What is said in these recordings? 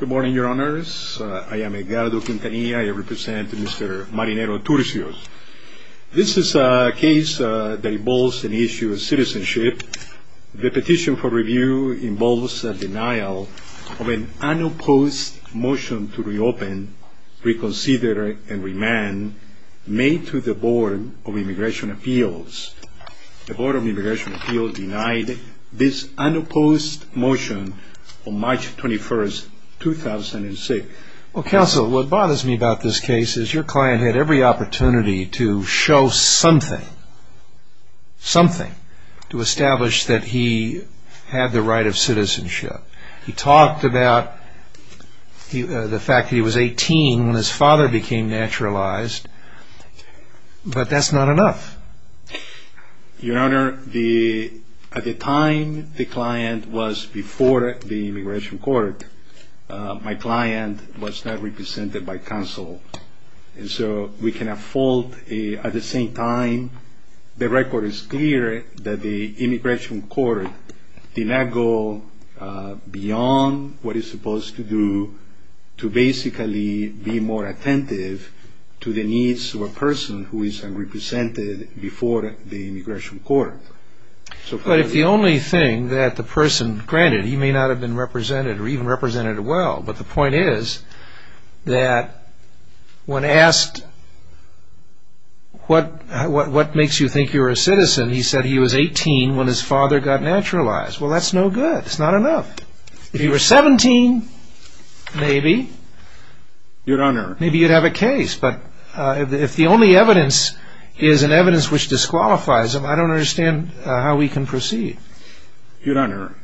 Good morning, your honors. I am Edgardo Quintanilla. I represent Mr. Marinero-Turcios. This is a case that involves an issue of citizenship. The petition for review involves a denial of an unopposed motion to reopen, reconsider, and remand made to the Board of Immigration Appeals. The Board of Immigration Appeals denied this unopposed motion on March 21, 2006. Well, counsel, what bothers me about this case is your client had every opportunity to show something, something, to establish that he had the right of citizenship. He talked about the fact that he was 18 when his father became naturalized, but that's not enough. Your honor, at the time the client was before the immigration court, my client was not represented by counsel. And so we can have fault at the same time. The record is clear that the immigration court did not go beyond what it's supposed to do to basically be more attentive to the needs of a person who is unrepresented before the immigration court. But if the only thing that the person, granted he may not have been represented or even represented well, but the point is that when asked what makes you think you're a citizen, he said he was 18 when his father got naturalized. Well, that's no good. It's not enough. If he were 17, maybe, your honor, maybe you'd have a case. But if the only evidence is an evidence which disqualifies him, I don't understand how we can proceed. Your honor,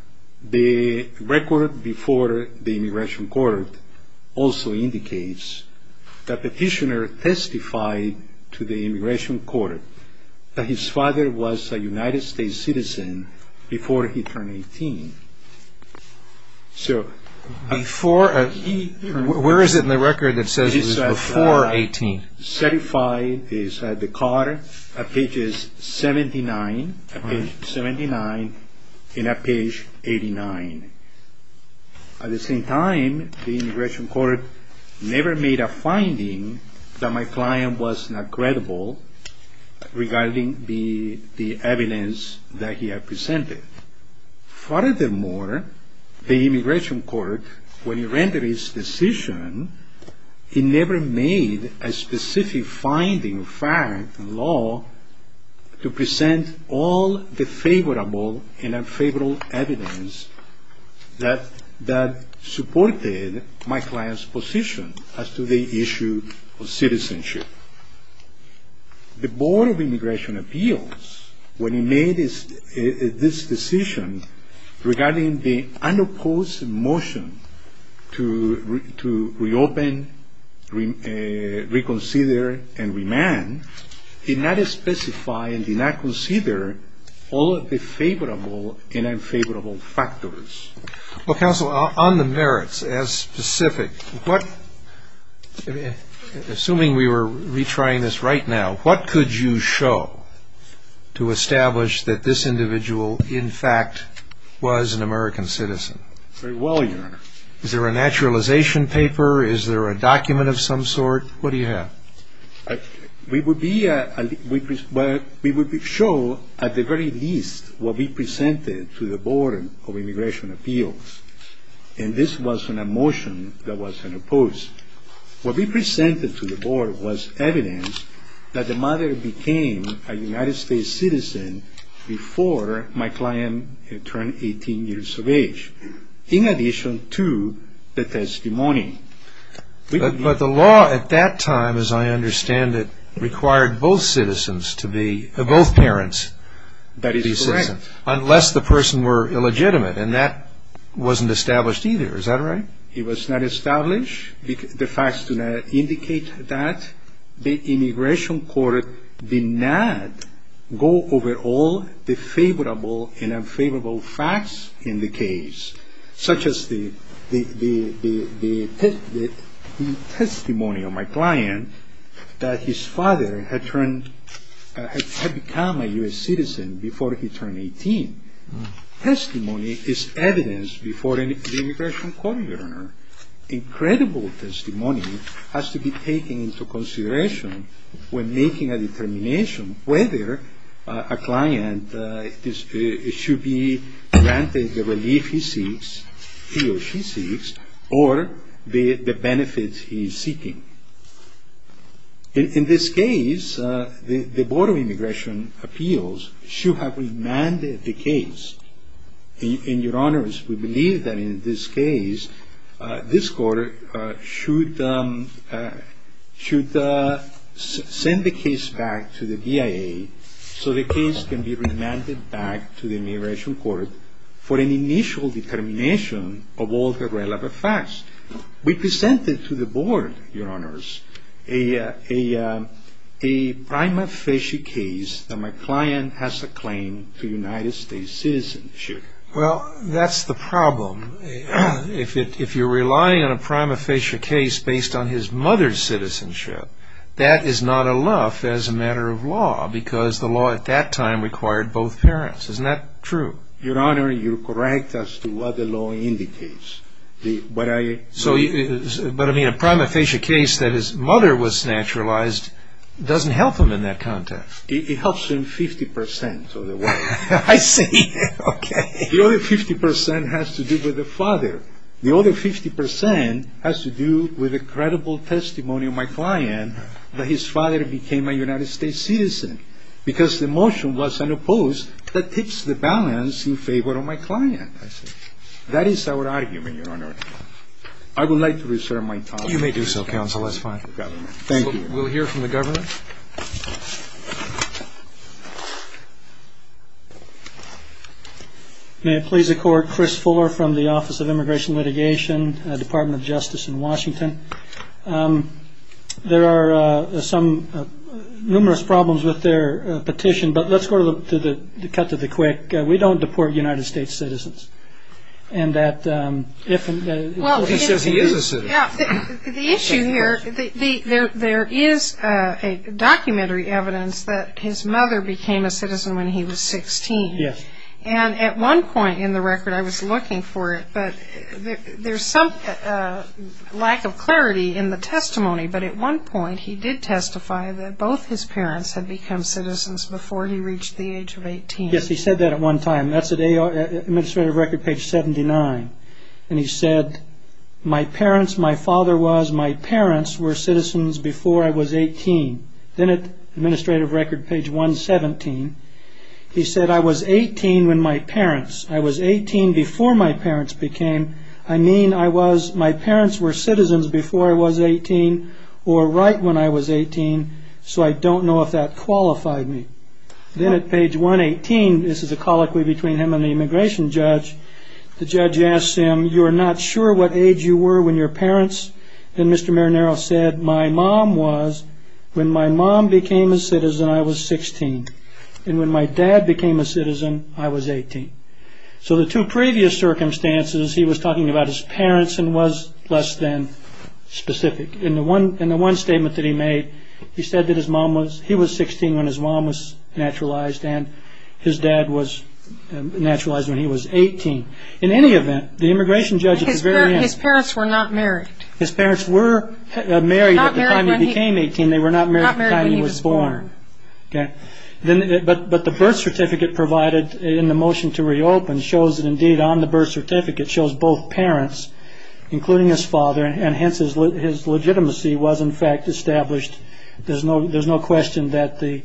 the record before the immigration court also indicates that the petitioner testified to the immigration court that his father was a United States citizen before he turned 18. Where is it in the record that says he was before 18? Certified is at the card at pages 79 and at page 89. At the same time, the immigration court never made a finding that my client was not credible regarding the evidence that he had presented. Furthermore, the immigration court, when it rendered its decision, it never made a specific finding of fact and law to present all the favorable and unfavorable evidence that supported my client's position as to the issue of citizenship. The Board of Immigration Appeals, when it made this decision regarding the unopposed motion to reopen, reconsider, and remand, did not specify and did not consider all of the favorable and unfavorable factors. Well, counsel, on the merits, as specific, assuming we were retrying this right now, what could you show to establish that this individual, in fact, was an American citizen? Very well, your honor. Is there a naturalization paper? Is there a document of some sort? What do you have? We would show, at the very least, what we presented to the Board of Immigration Appeals, and this was a motion that was unopposed. What we presented to the Board was evidence that the mother became a United States citizen before my client turned 18 years of age, in addition to the testimony. But the law at that time, as I understand it, required both parents to be citizens. That is correct. Unless the person were illegitimate, and that wasn't established either. Is that right? It was not established. The facts do not indicate that. The immigration court did not go over all the favorable and unfavorable facts in the case, such as the testimony of my client that his father had become a U.S. citizen before he turned 18. Testimony is evidence before the immigration court, your honor. Incredible testimony has to be taken into consideration when making a determination whether a client should be granted the relief he seeks, he or she seeks, or the benefits he is seeking. In this case, the Board of Immigration Appeals should have remanded the case. And your honors, we believe that in this case, this court should send the case back to the DIA so the case can be remanded back to the immigration court for an initial determination of all the relevant facts. We presented to the Board, your honors, a prima facie case that my client has a claim to United States citizenship. Well, that's the problem. If you're relying on a prima facie case based on his mother's citizenship, that is not enough as a matter of law, because the law at that time required both parents. Isn't that true? Your honor, you're correct as to what the law indicates. But a prima facie case that his mother was naturalized doesn't help him in that context. It helps him 50% of the way. I see. Okay. The other 50% has to do with the father. The other 50% has to do with a credible testimony of my client that his father became a United States citizen because the motion was unopposed that tips the balance in favor of my client. That is our argument, your honor. I would like to reserve my time. You may do so, counsel. That's fine. Thank you. We'll hear from the government. Thank you. May it please the court, Chris Fuller from the Office of Immigration Litigation, Department of Justice in Washington. There are some numerous problems with their petition, but let's go to the cut to the quick. We don't deport United States citizens. Well, he says he is a citizen. The issue here, there is a documentary evidence that his mother became a citizen when he was 16. Yes. And at one point in the record, I was looking for it, but there's some lack of clarity in the testimony. But at one point, he did testify that both his parents had become citizens before he reached the age of 18. Yes, he said that at one time. That's an administrative record page 79. And he said, my parents, my father was my parents were citizens before I was 18. Then it administrative record page 117. He said, I was 18 when my parents I was 18 before my parents became. I mean, I was my parents were citizens before I was 18 or right when I was 18. So I don't know if that qualified me. Then at page 118, this is a colloquy between him and the immigration judge. The judge asked him, you are not sure what age you were when your parents. And Mr. Marinero said, my mom was when my mom became a citizen, I was 16. And when my dad became a citizen, I was 18. So the two previous circumstances, he was talking about his parents and was less than specific. In the one statement that he made, he said that his mom was he was 16 when his mom was naturalized. And his dad was naturalized when he was 18. In any event, the immigration judge. His parents were not married. His parents were married when he became 18. They were not married when he was born. But the birth certificate provided in the motion to reopen shows that indeed on the birth certificate shows both parents, including his father, and hence his legitimacy was in fact established. There's no there's no question that the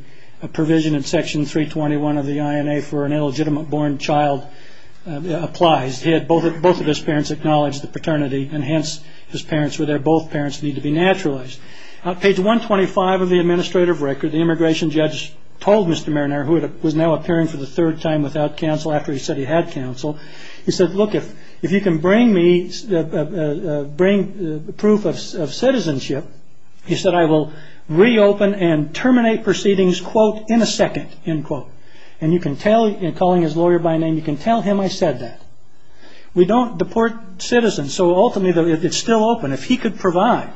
provision in Section 321 of the INA for an illegitimate born child applies. He had both both of his parents acknowledge the paternity and hence his parents were there. Both parents need to be naturalized. Page 125 of the administrative record, the immigration judge told Mr. Marinero, who was now appearing for the third time without counsel after he said he had counsel. He said, look, if if you can bring me bring proof of citizenship. He said, I will reopen and terminate proceedings, quote, in a second, end quote. And you can tell in calling his lawyer by name, you can tell him I said that. We don't deport citizens. So ultimately, if it's still open, if he could provide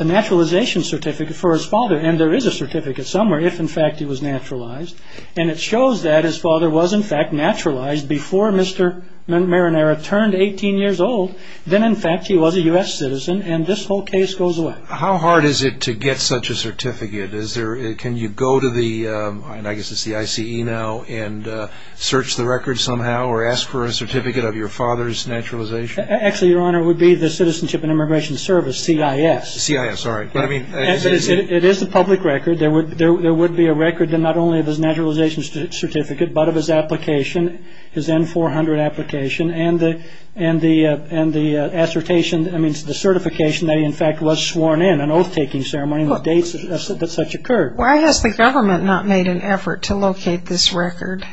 a naturalization certificate for his father. And there is a certificate somewhere, if in fact he was naturalized. And it shows that his father was, in fact, naturalized before Mr. Marinero turned 18 years old. Then, in fact, he was a U.S. citizen. And this whole case goes away. How hard is it to get such a certificate? Is there can you go to the I guess it's the I.C.E. now and search the record somehow or ask for a certificate of your father's naturalization? Actually, Your Honor, would be the Citizenship and Immigration Service, C.I.S. C.I.S. All right. But I mean, it is a public record. There would be a record that not only of his naturalization certificate, but of his application, his N-400 application, and the assertation, I mean, the certification that he, in fact, was sworn in, an oath-taking ceremony with dates that such occurred. Why has the government not made an effort to locate this record?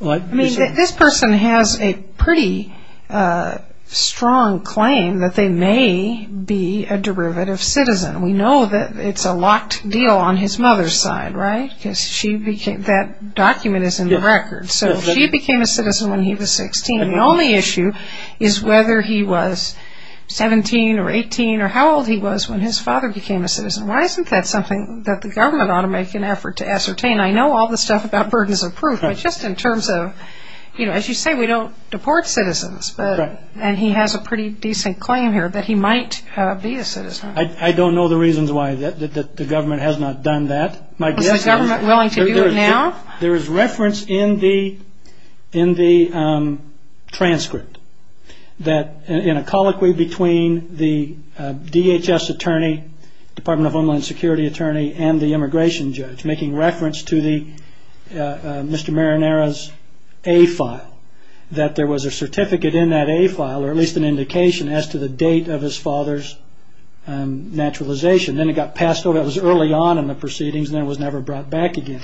I mean, this person has a pretty strong claim that they may be a derivative citizen. We know that it's a locked deal on his mother's side, right, because she became that document is in the record. So she became a citizen when he was 16. The only issue is whether he was 17 or 18 or how old he was when his father became a citizen. Why isn't that something that the government ought to make an effort to ascertain? I know all the stuff about burdens of proof, but just in terms of, you know, as you say, we don't deport citizens. Correct. And he has a pretty decent claim here that he might be a citizen. I don't know the reasons why the government has not done that. Is the government willing to do it now? There is reference in the transcript that in a colloquy between the DHS attorney, Department of Homeland Security attorney, and the immigration judge making reference to Mr. Marinara's A-file, that there was a certificate in that A-file, or at least an indication as to the date of his father's naturalization. Then it got passed over. It was early on in the proceedings, and then it was never brought back again.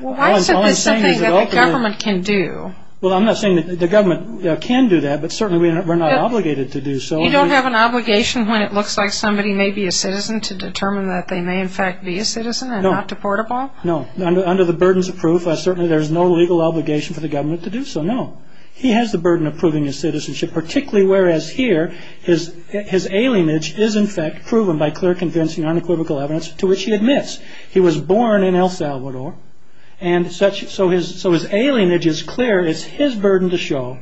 Why isn't this something that the government can do? Well, I'm not saying that the government can do that, but certainly we're not obligated to do so. You don't have an obligation when it looks like somebody may be a citizen to determine that they may in fact be a citizen and not deportable? No. Under the burdens of proof, certainly there's no legal obligation for the government to do so, no. He has the burden of proving his citizenship, particularly whereas here his alienage is in fact proven by clear, convincing, unequivocal evidence to which he admits. He was born in El Salvador, and so his alienage is clear. It's his burden to show.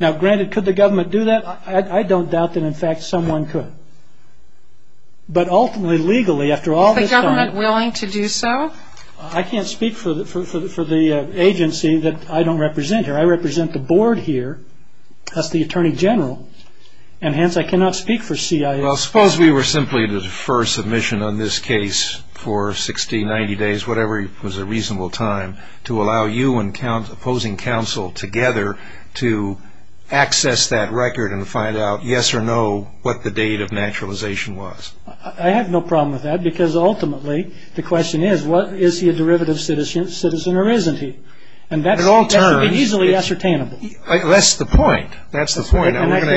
Now, granted, could the government do that? I don't doubt that in fact someone could. But ultimately, legally, after all this time- Is the government willing to do so? I can't speak for the agency that I don't represent here. I represent the board here, thus the attorney general, and hence I cannot speak for CIA. Well, suppose we were simply to defer submission on this case for 60, 90 days, whatever was a reasonable time, to allow you and opposing counsel together to access that record and find out, yes or no, what the date of naturalization was. I have no problem with that because ultimately the question is, is he a derivative citizen or isn't he? At all terms- And that should be easily ascertainable. That's the point. That's the point, and we're going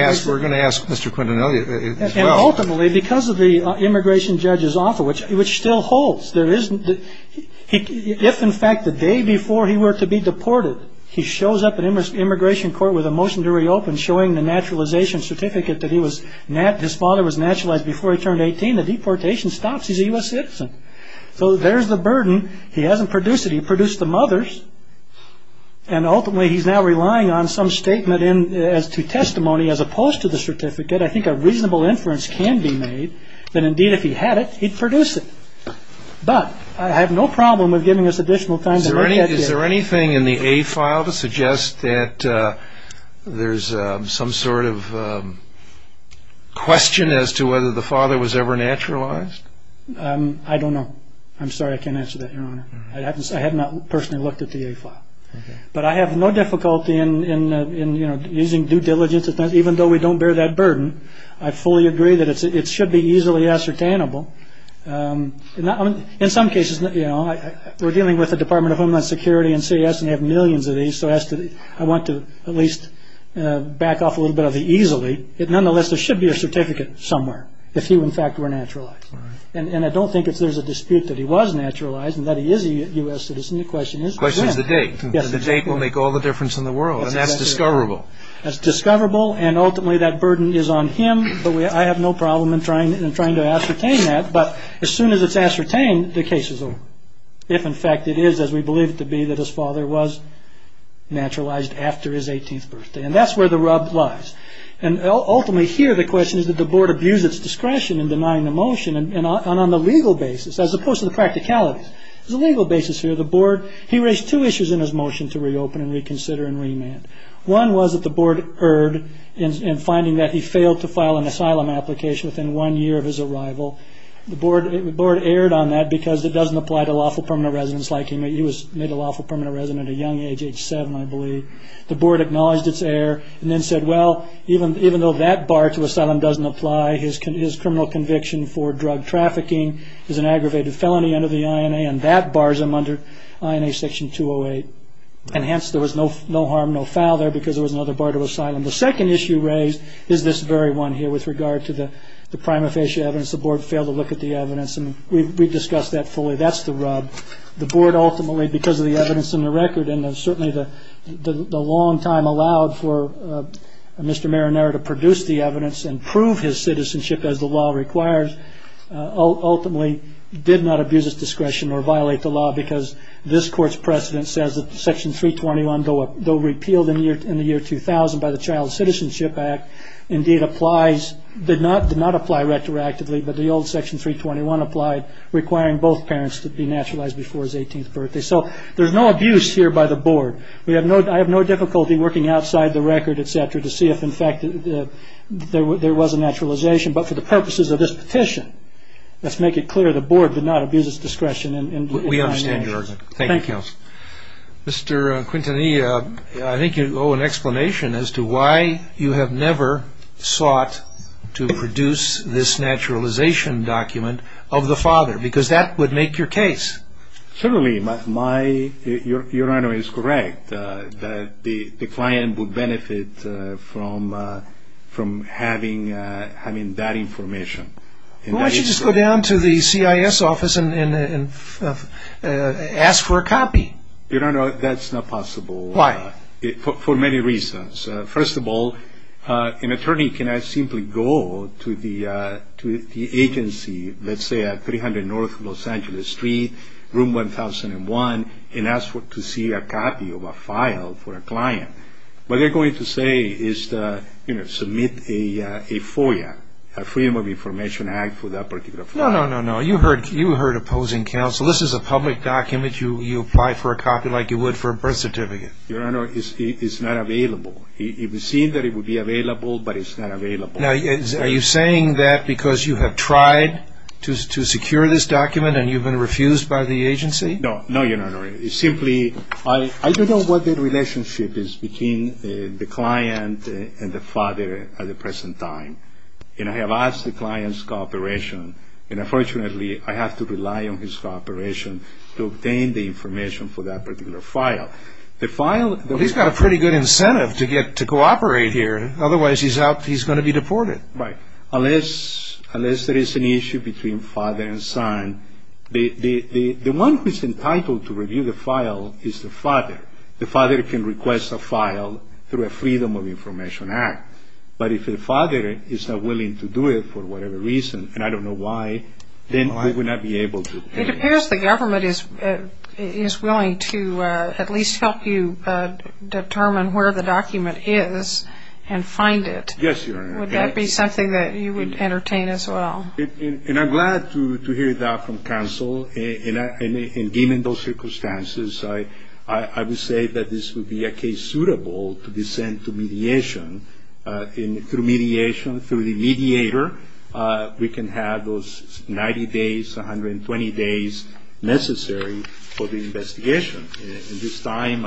to ask Mr. Quintanilla as well. And ultimately, because of the immigration judge's offer, which still holds, if in fact the day before he were to be deported he shows up at immigration court with a motion to reopen showing the naturalization certificate that his father was naturalized before he turned 18, the deportation stops, he's a U.S. citizen. So there's the burden. He hasn't produced it. He produced the mother's, and ultimately he's now relying on some statement as to testimony as opposed to the certificate. I think a reasonable inference can be made that, indeed, if he had it, he'd produce it. But I have no problem with giving us additional time to look at this. Is there anything in the A file to suggest that there's some sort of question as to whether the father was ever naturalized? I don't know. I'm sorry, I can't answer that, Your Honor. I have not personally looked at the A file. But I have no difficulty in using due diligence, even though we don't bear that burden. I fully agree that it should be easily ascertainable. In some cases, you know, we're dealing with the Department of Homeland Security and CES, and they have millions of these, so I want to at least back off a little bit of the easily. Nonetheless, there should be a certificate somewhere, if he, in fact, were naturalized. And I don't think if there's a dispute that he was naturalized and that he is a U.S. citizen, the question is when. The question is the date. The date will make all the difference in the world, and that's discoverable. That's discoverable, and ultimately that burden is on him. But I have no problem in trying to ascertain that. But as soon as it's ascertained, the case is over. If, in fact, it is, as we believe it to be, that his father was naturalized after his 18th birthday. And that's where the rub lies. And ultimately here, the question is that the board abused its discretion in denying the motion, and on the legal basis, as opposed to the practicalities. The legal basis here, the board, he raised two issues in his motion to reopen and reconsider and remand. One was that the board erred in finding that he failed to file an asylum application within one year of his arrival. The board erred on that because it doesn't apply to lawful permanent residents like him. He was made a lawful permanent resident at a young age, age seven, I believe. The board acknowledged its error and then said, well, even though that bar to asylum doesn't apply, his criminal conviction for drug trafficking is an aggravated felony under the INA, and that bars him under INA section 208. And hence, there was no harm, no foul there because there was another bar to asylum. The second issue raised is this very one here with regard to the prima facie evidence. The board failed to look at the evidence, and we've discussed that fully. That's the rub. The board ultimately, because of the evidence in the record, and certainly the long time allowed for Mr. Marinero to produce the evidence and prove his citizenship as the law requires, ultimately did not abuse his discretion or violate the law because this court's precedent says that section 321, though repealed in the year 2000 by the Child Citizenship Act, indeed applies, did not apply retroactively, but the old section 321 applied, requiring both parents to be naturalized before his 18th birthday. So there's no abuse here by the board. I have no difficulty working outside the record, et cetera, to see if, in fact, there was a naturalization. But for the purposes of this petition, let's make it clear the board did not abuse its discretion. Thank you, counsel. Mr. Quintanilla, I think you owe an explanation as to why you have never sought to produce this naturalization document of the father, because that would make your case. Certainly. Your Honor is correct that the client would benefit from having that information. Why don't you just go down to the CIS office and ask for a copy? Your Honor, that's not possible. Why? For many reasons. First of all, an attorney cannot simply go to the agency, let's say at 300 North Los Angeles Street, Room 1001, and ask to see a copy of a file for a client. What they're going to say is to submit a FOIA, a Freedom of Information Act, for that particular file. No, no, no, no. You heard opposing counsel. This is a public document. You apply for a copy like you would for a birth certificate. Your Honor, it's not available. It was seen that it would be available, but it's not available. Now, are you saying that because you have tried to secure this document and you've been refused by the agency? No, no, Your Honor. It's simply I don't know what the relationship is between the client and the father at the present time, and I have asked the client's cooperation, and unfortunately I have to rely on his cooperation to obtain the information for that particular file. He's got a pretty good incentive to cooperate here. Otherwise, he's going to be deported. Right. Unless there is an issue between father and son, the one who's entitled to review the file is the father. The father can request a file through a Freedom of Information Act, but if the father is not willing to do it for whatever reason, and I don't know why, then he would not be able to. It appears the government is willing to at least help you determine where the document is and find it. Yes, Your Honor. Would that be something that you would entertain as well? And I'm glad to hear that from counsel. And given those circumstances, I would say that this would be a case suitable to be sent to mediation. And through mediation, through the mediator, we can have those 90 days, 120 days necessary for the investigation. At this time,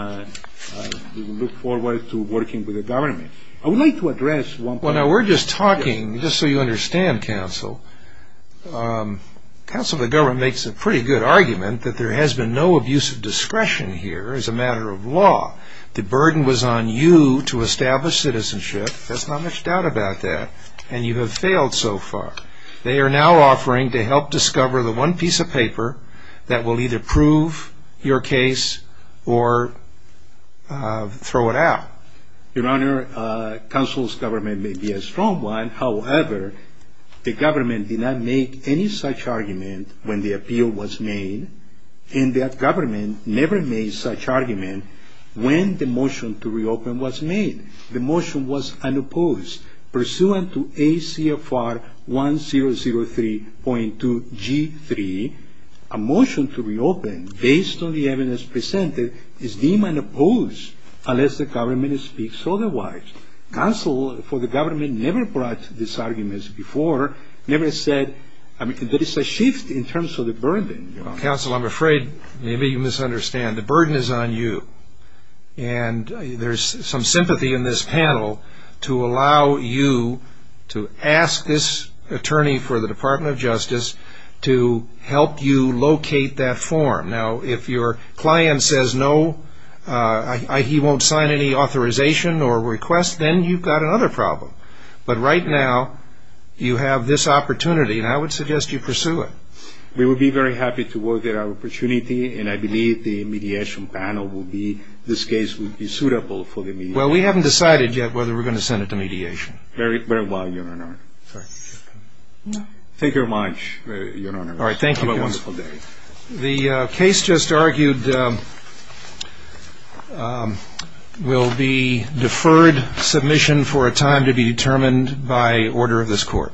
we look forward to working with the government. I would like to address one point. Well, now, we're just talking, just so you understand, counsel. Counsel of the government makes a pretty good argument that there has been no abuse of discretion here as a matter of law. The burden was on you to establish citizenship. There's not much doubt about that. And you have failed so far. They are now offering to help discover the one piece of paper that will either prove your case or throw it out. Your Honor, counsel's government may be a strong one. However, the government did not make any such argument when the appeal was made, and the government never made such argument when the motion to reopen was made. The motion was unopposed. Pursuant to ACFR 1003.2G3, a motion to reopen based on the evidence presented is deemed unopposed unless the government speaks otherwise. Counsel for the government never brought this argument before, never said there is a shift in terms of the burden. Counsel, I'm afraid maybe you misunderstand. The burden is on you. And there's some sympathy in this panel to allow you to ask this attorney for the Department of Justice to help you locate that form. Now, if your client says no, he won't sign any authorization or request, then you've got another problem. But right now, you have this opportunity, and I would suggest you pursue it. We would be very happy to work at our opportunity, and I believe the mediation panel will be, this case will be suitable for the mediation. Well, we haven't decided yet whether we're going to send it to mediation. Very well, Your Honor. Thank you very much, Your Honor. All right, thank you, counsel. Have a wonderful day. The case just argued will be deferred submission for a time to be determined by order of this court.